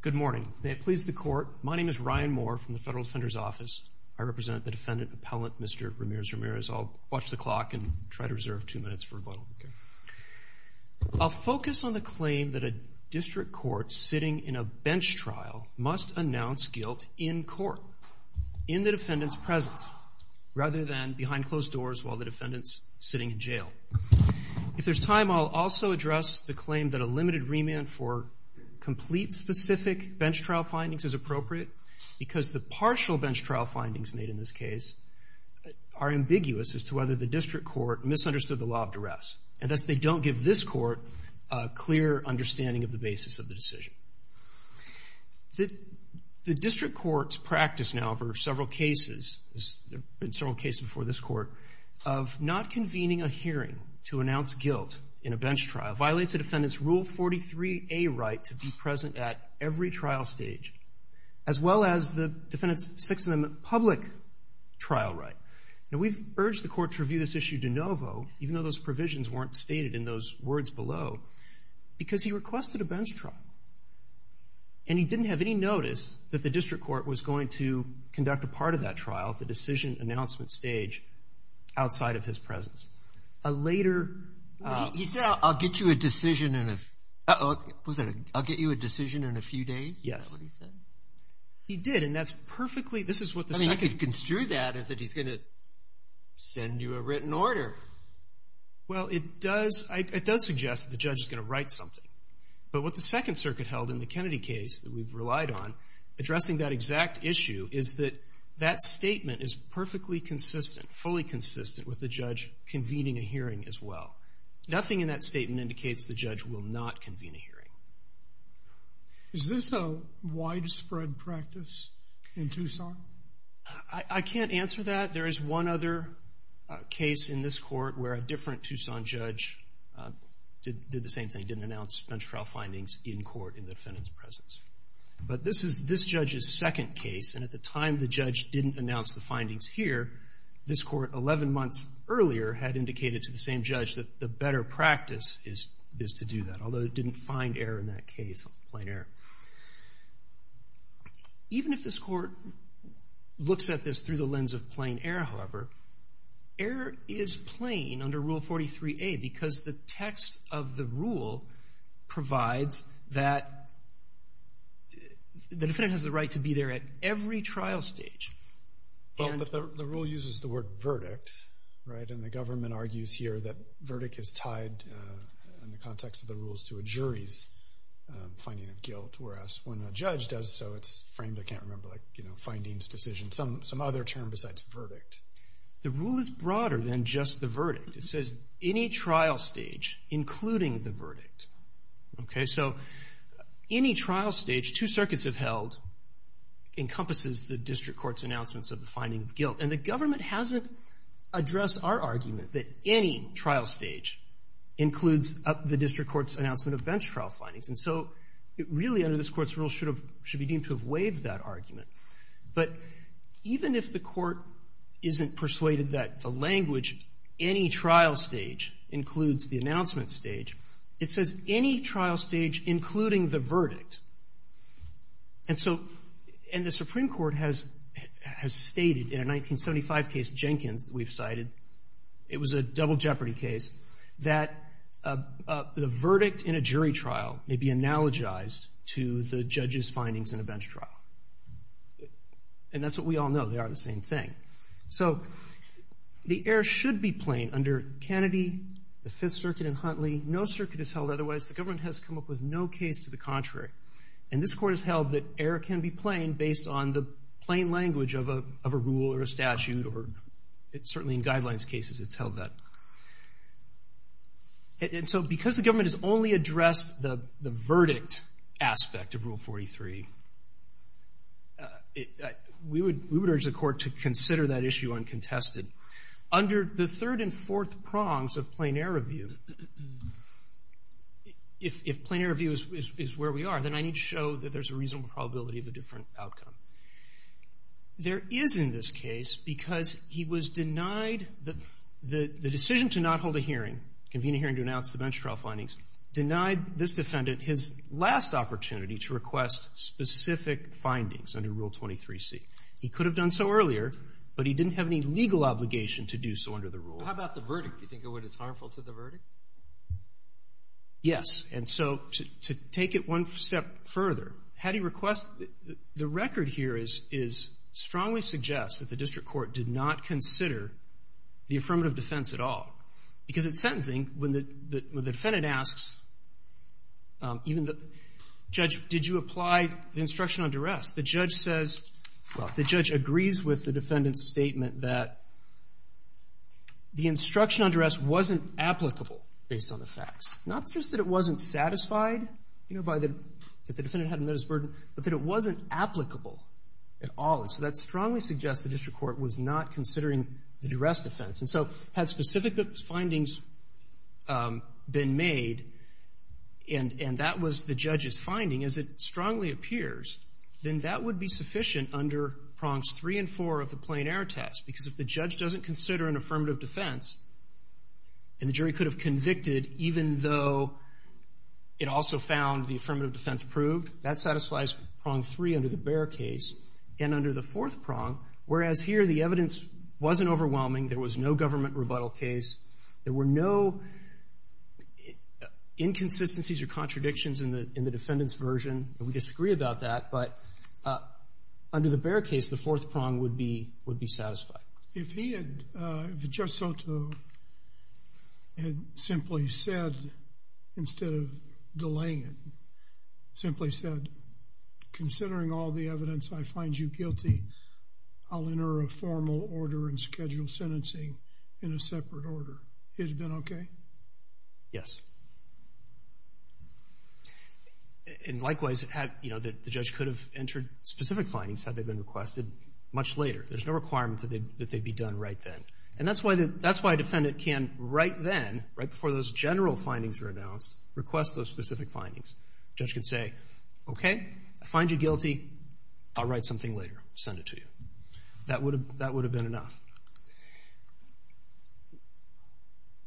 Good morning. May it please the Court. My name is Ryan Moore from the Federal Defender's Office. I represent the defendant appellate Mr. Ramirez-Ramirez. I'll watch the clock and try to reserve 2 happen for a little. I'll focus on the claim that a district court sitting in a bench trial must announce guilt in court in the defendant's presence, rather than behind closed doors while the defendant's sitting in jail. If there's time I'll also address the claim that a limited remand for complete specific bench trial findings is appropriate because the partial bench trial findings made in this case are ambiguous as to whether the district court misunderstood the law of duress. And thus they don't give this court a clear understanding of the basis of the decision. The district court's practice now for several cases, there have been several cases before this court, of not convening a hearing to announce guilt in a bench trial violates a defendant's Rule 43A right to be present at every trial stage, as well as the defendant's 6th Amendment public trial right. We've urged the court to review this issue de novo, even though those provisions weren't stated in those words below, because he requested a bench trial. And he didn't have any notice that the district court was going to conduct a part of that trial at the decision announcement stage outside of his presence. A later... He said, I'll get you a decision in a few days? Yes. Is that what he said? He did, and that's perfectly... I mean, you could construe that as that he's going to send you a written order. Well, it does suggest that the judge is going to write something. But what the Second Circuit held in the Kennedy case that we've relied on, addressing that exact issue, is that that is consistent, fully consistent, with the judge convening a hearing as well. Nothing in that statement indicates the judge will not convene a hearing. Is this a widespread practice in Tucson? I can't answer that. There is one other case in this court where a different Tucson judge did the same thing, didn't announce bench trial findings in court in the defendant's presence. But this is this judge's second case, and at the time the judge didn't announce the findings here, this court, 11 months earlier, had indicated to the same judge that the better practice is to do that, although it didn't find error in that case, plain error. Even if this court looks at this through the lens of plain error, however, error is plain under Rule 43A because the text of the rule provides that the defendant has the right to be there at every trial stage. But the rule uses the word verdict, and the government argues here that verdict is tied in the context of the rules to a jury's finding of guilt, whereas when a judge does so, it's framed, I can't remember, like findings, decisions, some other term besides verdict. The rule is broader than just the verdict. It says any trial stage, including the verdict. So any trial stage two circuits have held encompasses the district court's announcements of the finding of guilt, and the government hasn't addressed our argument that any trial stage includes the district court's announcement of bench trial findings. And so it really, under this court's rule, should be deemed to have waived that argument. But even if the court isn't persuaded that the language, any trial stage, includes the verdict, and the Supreme Court has stated in a 1975 case, Jenkins, that we've cited, it was a double jeopardy case, that the verdict in a jury trial may be analogized to the judge's findings in a bench trial. And that's what we all know, they are the same thing. So the error should be plain under Kennedy, the Fifth Circuit, and Huntley. No circuit is held otherwise. The government has come up with no case to the contrary. And this court has held that error can be plain based on the plain language of a rule or a statute, or certainly in guidelines cases it's held that. And so because the government has only addressed the verdict aspect of Rule 43, we would urge the court to consider that issue uncontested. Under the third and fourth prongs of plain error view, if plain error view is where we are, then I need to show that there's a reasonable probability of a different outcome. There is in this case, because he was denied the decision to not hold a hearing, convene a hearing to announce the bench trial findings, denied this defendant his last opportunity to request specific findings under Rule 23C. He could have done so earlier, but he didn't have any legal obligation to do so under the rule. How about the verdict? Do you think it would be harmful to the verdict? Yes. And so to take it one step further, how do you request the record here is strongly suggests that the district court did not consider the affirmative defense at all. Because in sentencing, when the defendant asks, even the judge, did you apply the instruction on duress, the judge says, well, the judge agrees with the defendant's statement that the instruction on duress wasn't applicable based on the facts. Not just that it wasn't satisfied that the defendant hadn't met his burden, but that it wasn't applicable at all. And so that strongly suggests the district court was not considering the duress defense. And so had specific findings been made, and that was the judge's finding, as it strongly appears, then that would be sufficient under prongs three and four of the plain error test. Because if the judge doesn't consider an affirmative defense, and the jury could have convicted even though it also found the affirmative defense proved, that satisfies prong three under the Bear case, and under the fourth prong, whereas here the evidence wasn't overwhelming, there was no government rebuttal case, there were no inconsistencies or contradictions in the defendant's version, and we disagree about that, but under the Bear case, the fourth prong would be satisfied. If he had, if Judge Soto had simply said, instead of delaying it, simply said, considering all the evidence, I find you guilty, I'll enter a formal order and schedule sentencing in a separate order, he'd have been okay? Yes. And likewise, the judge could have entered specific findings had they been requested much later. There's no requirement that they'd be done right then. And that's why a defendant can, right then, right before those general findings are announced, request those specific findings. The judge can say, okay, I find you guilty, I'll write something later, send it to you. That would have been enough.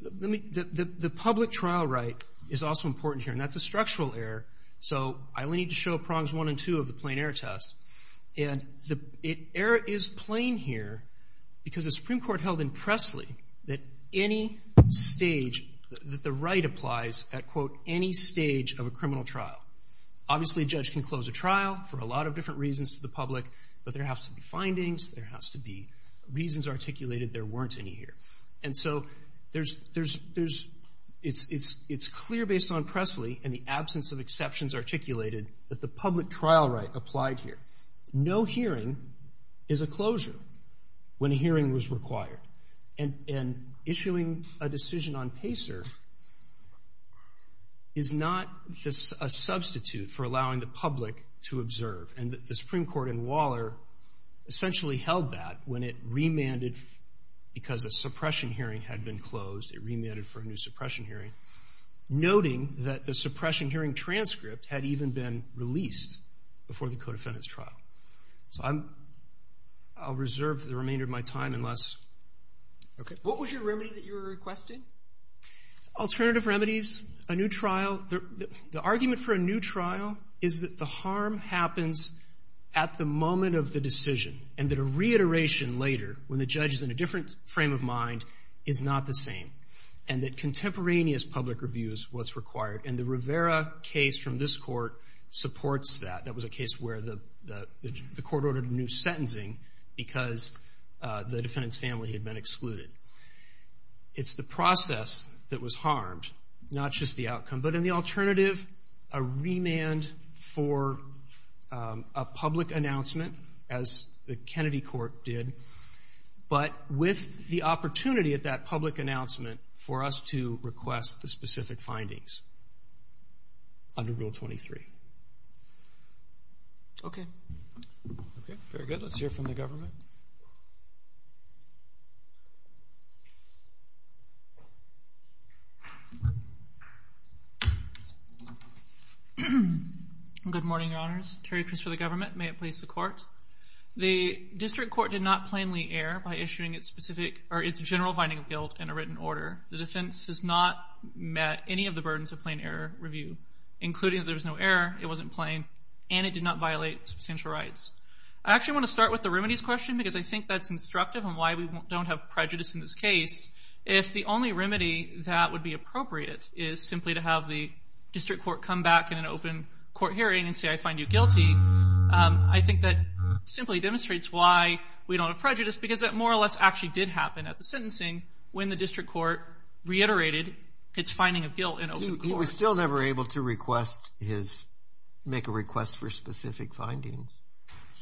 The public trial right is also important here, and that's a structural error, so I only need to show prongs one and two of the plain error test, and the error is plain here because the Supreme Court held in Presley that any stage, that the right applies at, quote, any stage of a criminal trial. Obviously a judge can close a trial for a lot of different reasons to the public, but there has to be findings, there has to be reasons articulated there weren't any here. And so there's, it's clear based on Presley and the absence of exceptions articulated that the public trial right applied here. No hearing is a closure when a hearing was required. And issuing a decision on PACER is not a substitute for allowing the public to observe. And the Supreme Court in Waller essentially held that when it remanded because a suppression hearing had been closed, it remanded for a new suppression hearing, noting that the suppression hearing transcript had even been released before the co-defendant's trial. So I'm, I'll reserve the remainder of my time unless, okay. What was your remedy that you were requesting? Alternative remedies, a new trial. The argument for a new trial is that the harm happens at the moment of the decision and that a reiteration later when the judge is in a different frame of mind is not the same and that contemporaneous public review is what's required. And the Rivera case from this court supports that. That was a case where the court ordered a new sentencing because the defendant's family had been excluded. It's the process that was harmed, not just the outcome. But in the alternative, a remand for a public announcement as the Kennedy court did, but with the opportunity at that public announcement for us to request the specific findings under Rule 23. Okay. Okay, very good. Let's hear from the government. Good morning, Your Honors. Terry Christopher, the government. May it please the court. The district court did not plainly err by issuing its specific, or its general finding of guilt in a written order. The defense has not met any of the burdens of plain error review, including that there was no error, it wasn't plain, and it did not violate substantial rights. I actually want to start with the remedies question because I think that's instructive on why we don't have prejudice in this case. If the only remedy that would be appropriate is simply to have the district court come back in an open court hearing and say, I find you guilty, I think that simply demonstrates why we don't have prejudice because that more or less actually did happen at the sentencing when the district court reiterated its finding of guilt in open court. He was still never able to request his, make a request for specific findings.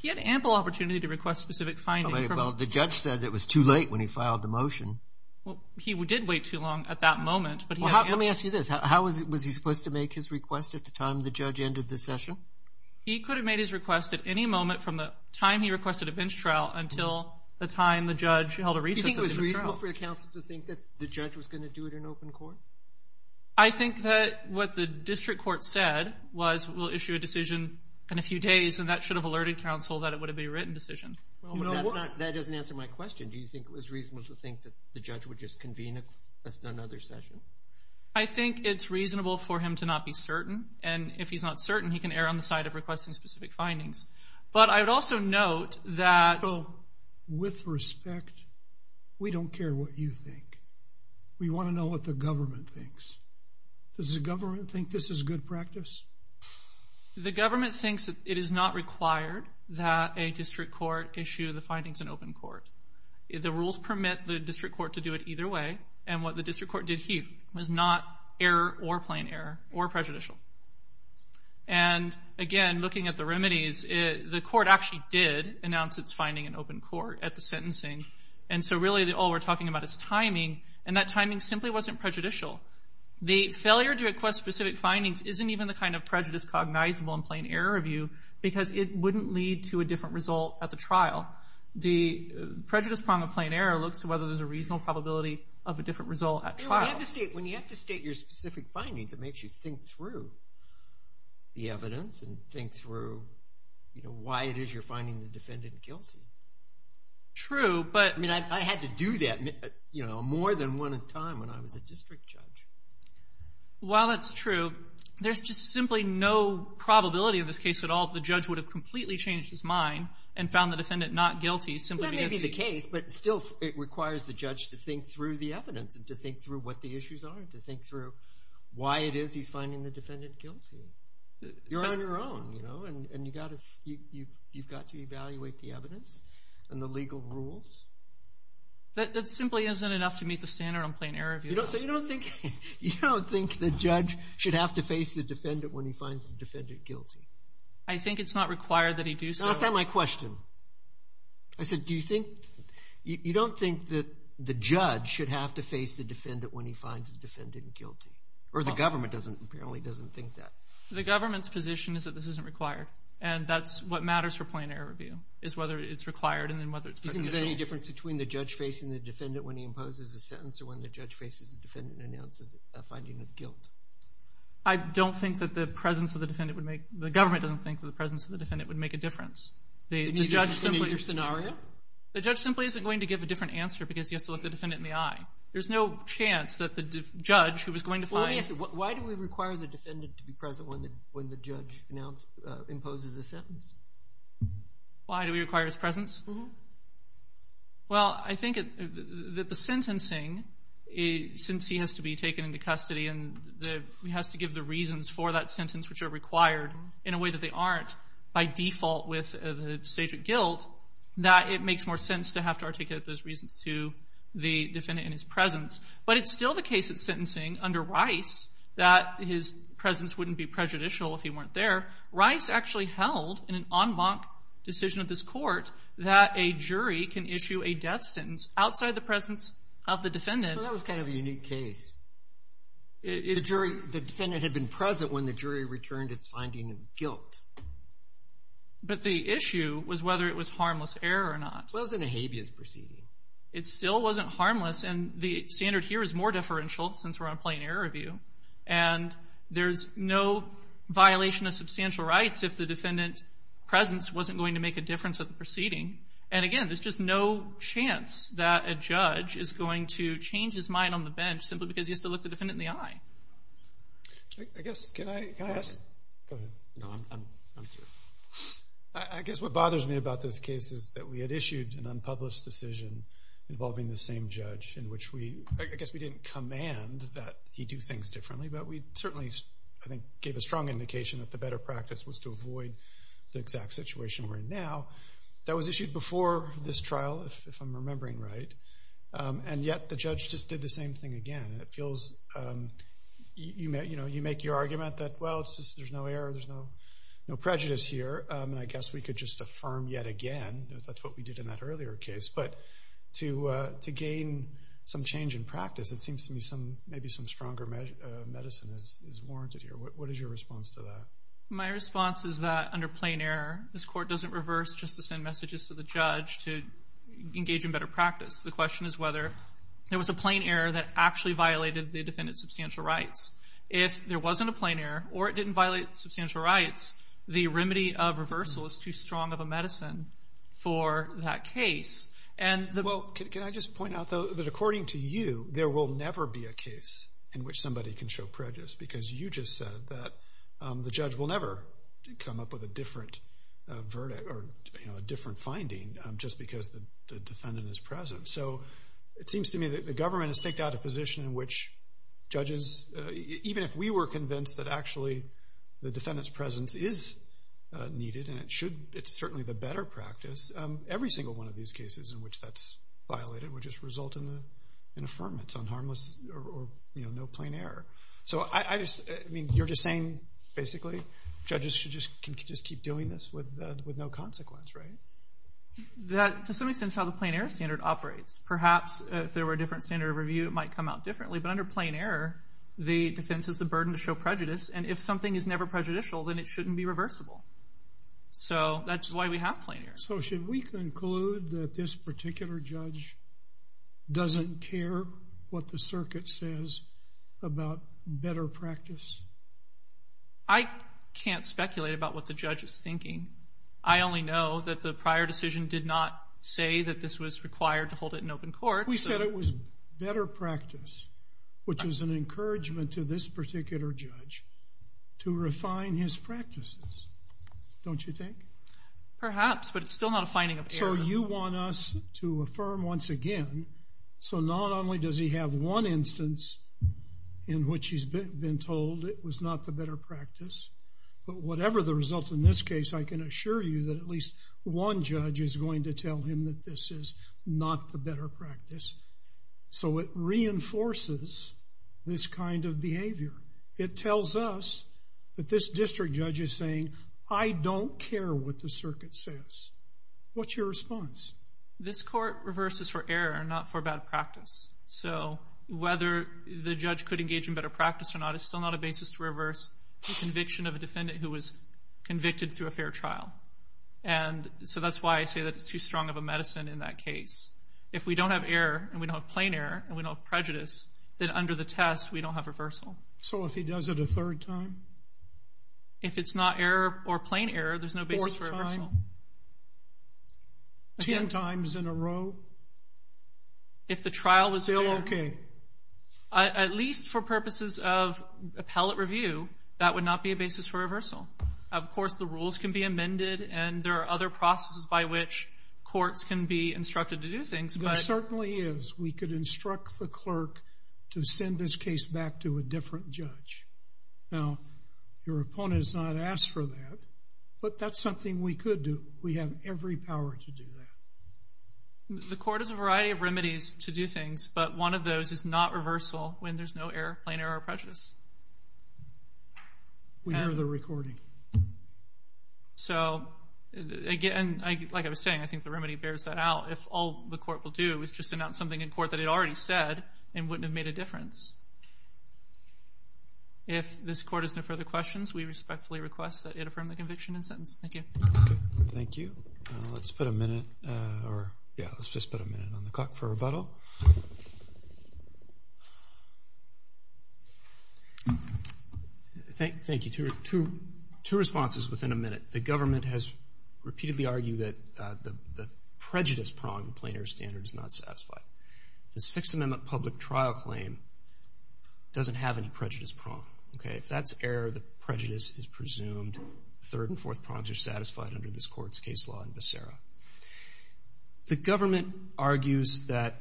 He had ample opportunity to request specific findings. The judge said it was too late when he filed the motion. He did wait too long at that moment. Let me ask you this. How was he supposed to make his request at the time the judge ended the session? He could have made his request at any moment from the time he requested a bench trial until the time the judge held a recess. Do you think it was reasonable for the counsel to think that the judge was going to do it in open court? I think that what the district court said was we'll issue a decision in a few days, and that should have alerted counsel that it would have been a written decision. That doesn't answer my question. Do you think it was reasonable to think that the judge would just convene another session? I think it's reasonable for him to not be certain, and if he's not certain, he can err on the side of requesting specific findings. But I would also note that with respect, we don't care what you think. We want to know what the government thinks. Does the government think this is good practice? The government thinks it is not required that a district court issue the findings in open court. The rules permit the district court to do it either way, and what the district court did here was not error or plain error or prejudicial. Again, looking at the remedies, the court actually did announce its finding in open court at the sentencing, and so really all we're talking about is timing, and that timing simply wasn't prejudicial. The failure to request specific findings isn't even the kind of prejudice cognizable in plain error review because it wouldn't lead to a different result at the trial. The prejudice problem of plain error looks to whether there's a reasonable probability of a different result at trial. When you have to state your specific findings, it makes you think through the evidence and think through why it is you're finding the defendant guilty. True, but— I mean, I had to do that more than one time when I was a district judge. While that's true, there's just simply no probability in this case at all if the judge would have completely changed his mind and found the defendant not guilty simply because— That may be the case, but still it requires the judge to think through the evidence and to think through what the issues are, to think through why it is he's finding the defendant guilty. You're on your own, you know, and you've got to evaluate the evidence and the legal rules. That simply isn't enough to meet the standard on plain error review. So you don't think the judge should have to face the defendant when he finds the defendant guilty? I think it's not required that he do so. I asked that in my question. I said, do you think—you don't think that the judge should have to face the defendant when he finds the defendant guilty, or the government apparently doesn't think that? The government's position is that this isn't required, and that's what matters for plain error review is whether it's required and then whether it's— Do you think there's any difference between the judge facing the defendant when he imposes a sentence or when the judge faces the defendant and announces a finding of guilt? I don't think that the presence of the defendant would make— In either scenario? The judge simply isn't going to give a different answer because he has to look the defendant in the eye. There's no chance that the judge who was going to find— Well, let me ask you, why do we require the defendant to be present when the judge imposes a sentence? Why do we require his presence? Well, I think that the sentencing, since he has to be taken into custody and he has to give the reasons for that sentence which are required in a way that they aren't by default with the stage of guilt, that it makes more sense to have to articulate those reasons to the defendant in his presence. But it's still the case of sentencing under Rice that his presence wouldn't be prejudicial if he weren't there. Rice actually held in an en banc decision of this court that a jury can issue a death sentence outside the presence of the defendant. That was kind of a unique case. The defendant had been present when the jury returned its finding of guilt. But the issue was whether it was harmless error or not. It wasn't a habeas proceeding. It still wasn't harmless, and the standard here is more differential since we're on plain error review. And there's no violation of substantial rights if the defendant's presence wasn't going to make a difference at the proceeding. And again, there's just no chance that a judge is going to change his mind on the bench simply because he has to look the defendant in the eye. I guess what bothers me about this case is that we had issued an unpublished decision involving the same judge in which we didn't command that he do things differently, but we certainly gave a strong indication that the better practice was to avoid the exact situation we're in now. That was issued before this trial, if I'm remembering right. And yet the judge just did the same thing again. You make your argument that, well, there's no error, there's no prejudice here, and I guess we could just affirm yet again that that's what we did in that earlier case. But to gain some change in practice, it seems to me maybe some stronger medicine is warranted here. What is your response to that? My response is that under plain error, this court doesn't reverse just to send messages to the judge to engage in better practice. The question is whether there was a plain error that actually violated the defendant's substantial rights. If there wasn't a plain error or it didn't violate substantial rights, the remedy of reversal is too strong of a medicine for that case. Well, can I just point out, though, that according to you, there will never be a case in which somebody can show prejudice because you just said that the judge will never come up with a different verdict or a different finding just because the defendant is present. So it seems to me that the government has taken out a position in which judges, even if we were convinced that actually the defendant's presence is needed and it's certainly the better practice, every single one of these cases in which that's violated would just result in an affirmance on harmless or no plain error. So you're just saying, basically, judges can just keep doing this with no consequence, right? That, to some extent, is how the plain error standard operates. Perhaps if there were a different standard of review, it might come out differently. But under plain error, the defense has the burden to show prejudice. And if something is never prejudicial, then it shouldn't be reversible. So that's why we have plain error. So should we conclude that this particular judge doesn't care what the circuit says about better practice? I can't speculate about what the judge is thinking. I only know that the prior decision did not say that this was required to hold it in open court. We said it was better practice, which is an encouragement to this particular judge, to refine his practices, don't you think? Perhaps, but it's still not a finding of error. So you want us to affirm once again, so not only does he have one instance in which he's been told it was not the better practice, but whatever the result in this case, I can assure you that at least one judge is going to tell him that this is not the better practice. So it reinforces this kind of behavior. It tells us that this district judge is saying, I don't care what the circuit says. What's your response? This court reverses for error and not for bad practice. So whether the judge could engage in better practice or not is still not a basis to reverse the conviction of a defendant who was convicted through a fair trial. And so that's why I say that it's too strong of a medicine in that case. If we don't have error and we don't have plain error and we don't have prejudice, then under the test, we don't have reversal. So if he does it a third time? If it's not error or plain error, there's no basis for reversal. Fourth time? Ten times in a row? If the trial was fair. Still okay? At least for purposes of appellate review, that would not be a basis for reversal. Of course, the rules can be amended, and there are other processes by which courts can be instructed to do things. There certainly is. We could instruct the clerk to send this case back to a different judge. Now, your opponent has not asked for that, but that's something we could do. We have every power to do that. The court has a variety of remedies to do things, but one of those is not reversal when there's no error, plain error, or prejudice. We hear the recording. So, again, like I was saying, I think the remedy bears that out. If all the court will do is just announce something in court that it already said and wouldn't have made a difference. If this court has no further questions, we respectfully request that you affirm the conviction and sentence. Thank you. Thank you. Let's put a minute or, yeah, let's just put a minute on the clock for rebuttal. Thank you. Two responses within a minute. The government has repeatedly argued that the prejudice prong, the plain error standard, is not satisfied. The Sixth Amendment public trial claim doesn't have any prejudice prong. Okay, if that's error, the prejudice is presumed. Third and fourth prongs are satisfied under this court's case law in Becerra. The government argues that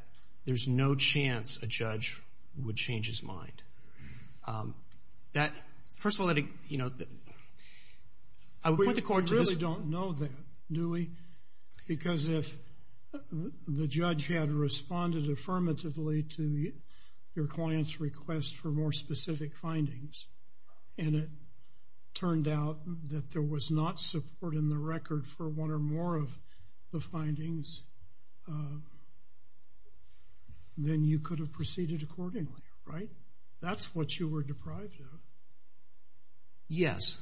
there's no chance a judge would change his mind. That, first of all, you know, I would put the court to this. We really don't know that, do we? Because if the judge had responded affirmatively to your client's request for more specific findings and it turned out that there was not support in the record for one or more of the findings, then you could have proceeded accordingly, right? That's what you were deprived of. Yes.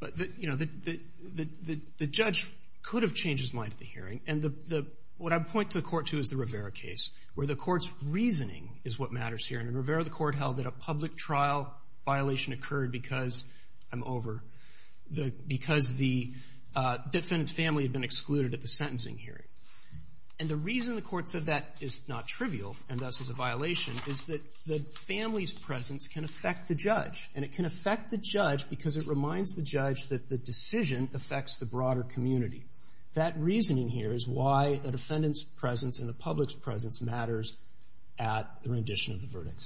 But, you know, the judge could have changed his mind at the hearing. And what I point to the court to is the Rivera case, where the court's reasoning is what matters here. And in Rivera, the court held that a public trial violation occurred because I'm over, because the defendant's family had been excluded at the sentencing hearing. And the reason the court said that is not trivial and thus is a violation is that the family's presence can affect the judge. And it can affect the judge because it reminds the judge that the decision affects the broader community. That reasoning here is why the defendant's presence and the public's presence matters at the rendition of the verdict.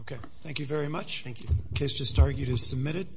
Okay. Thank you very much. Thank you. The case just argued is submitted.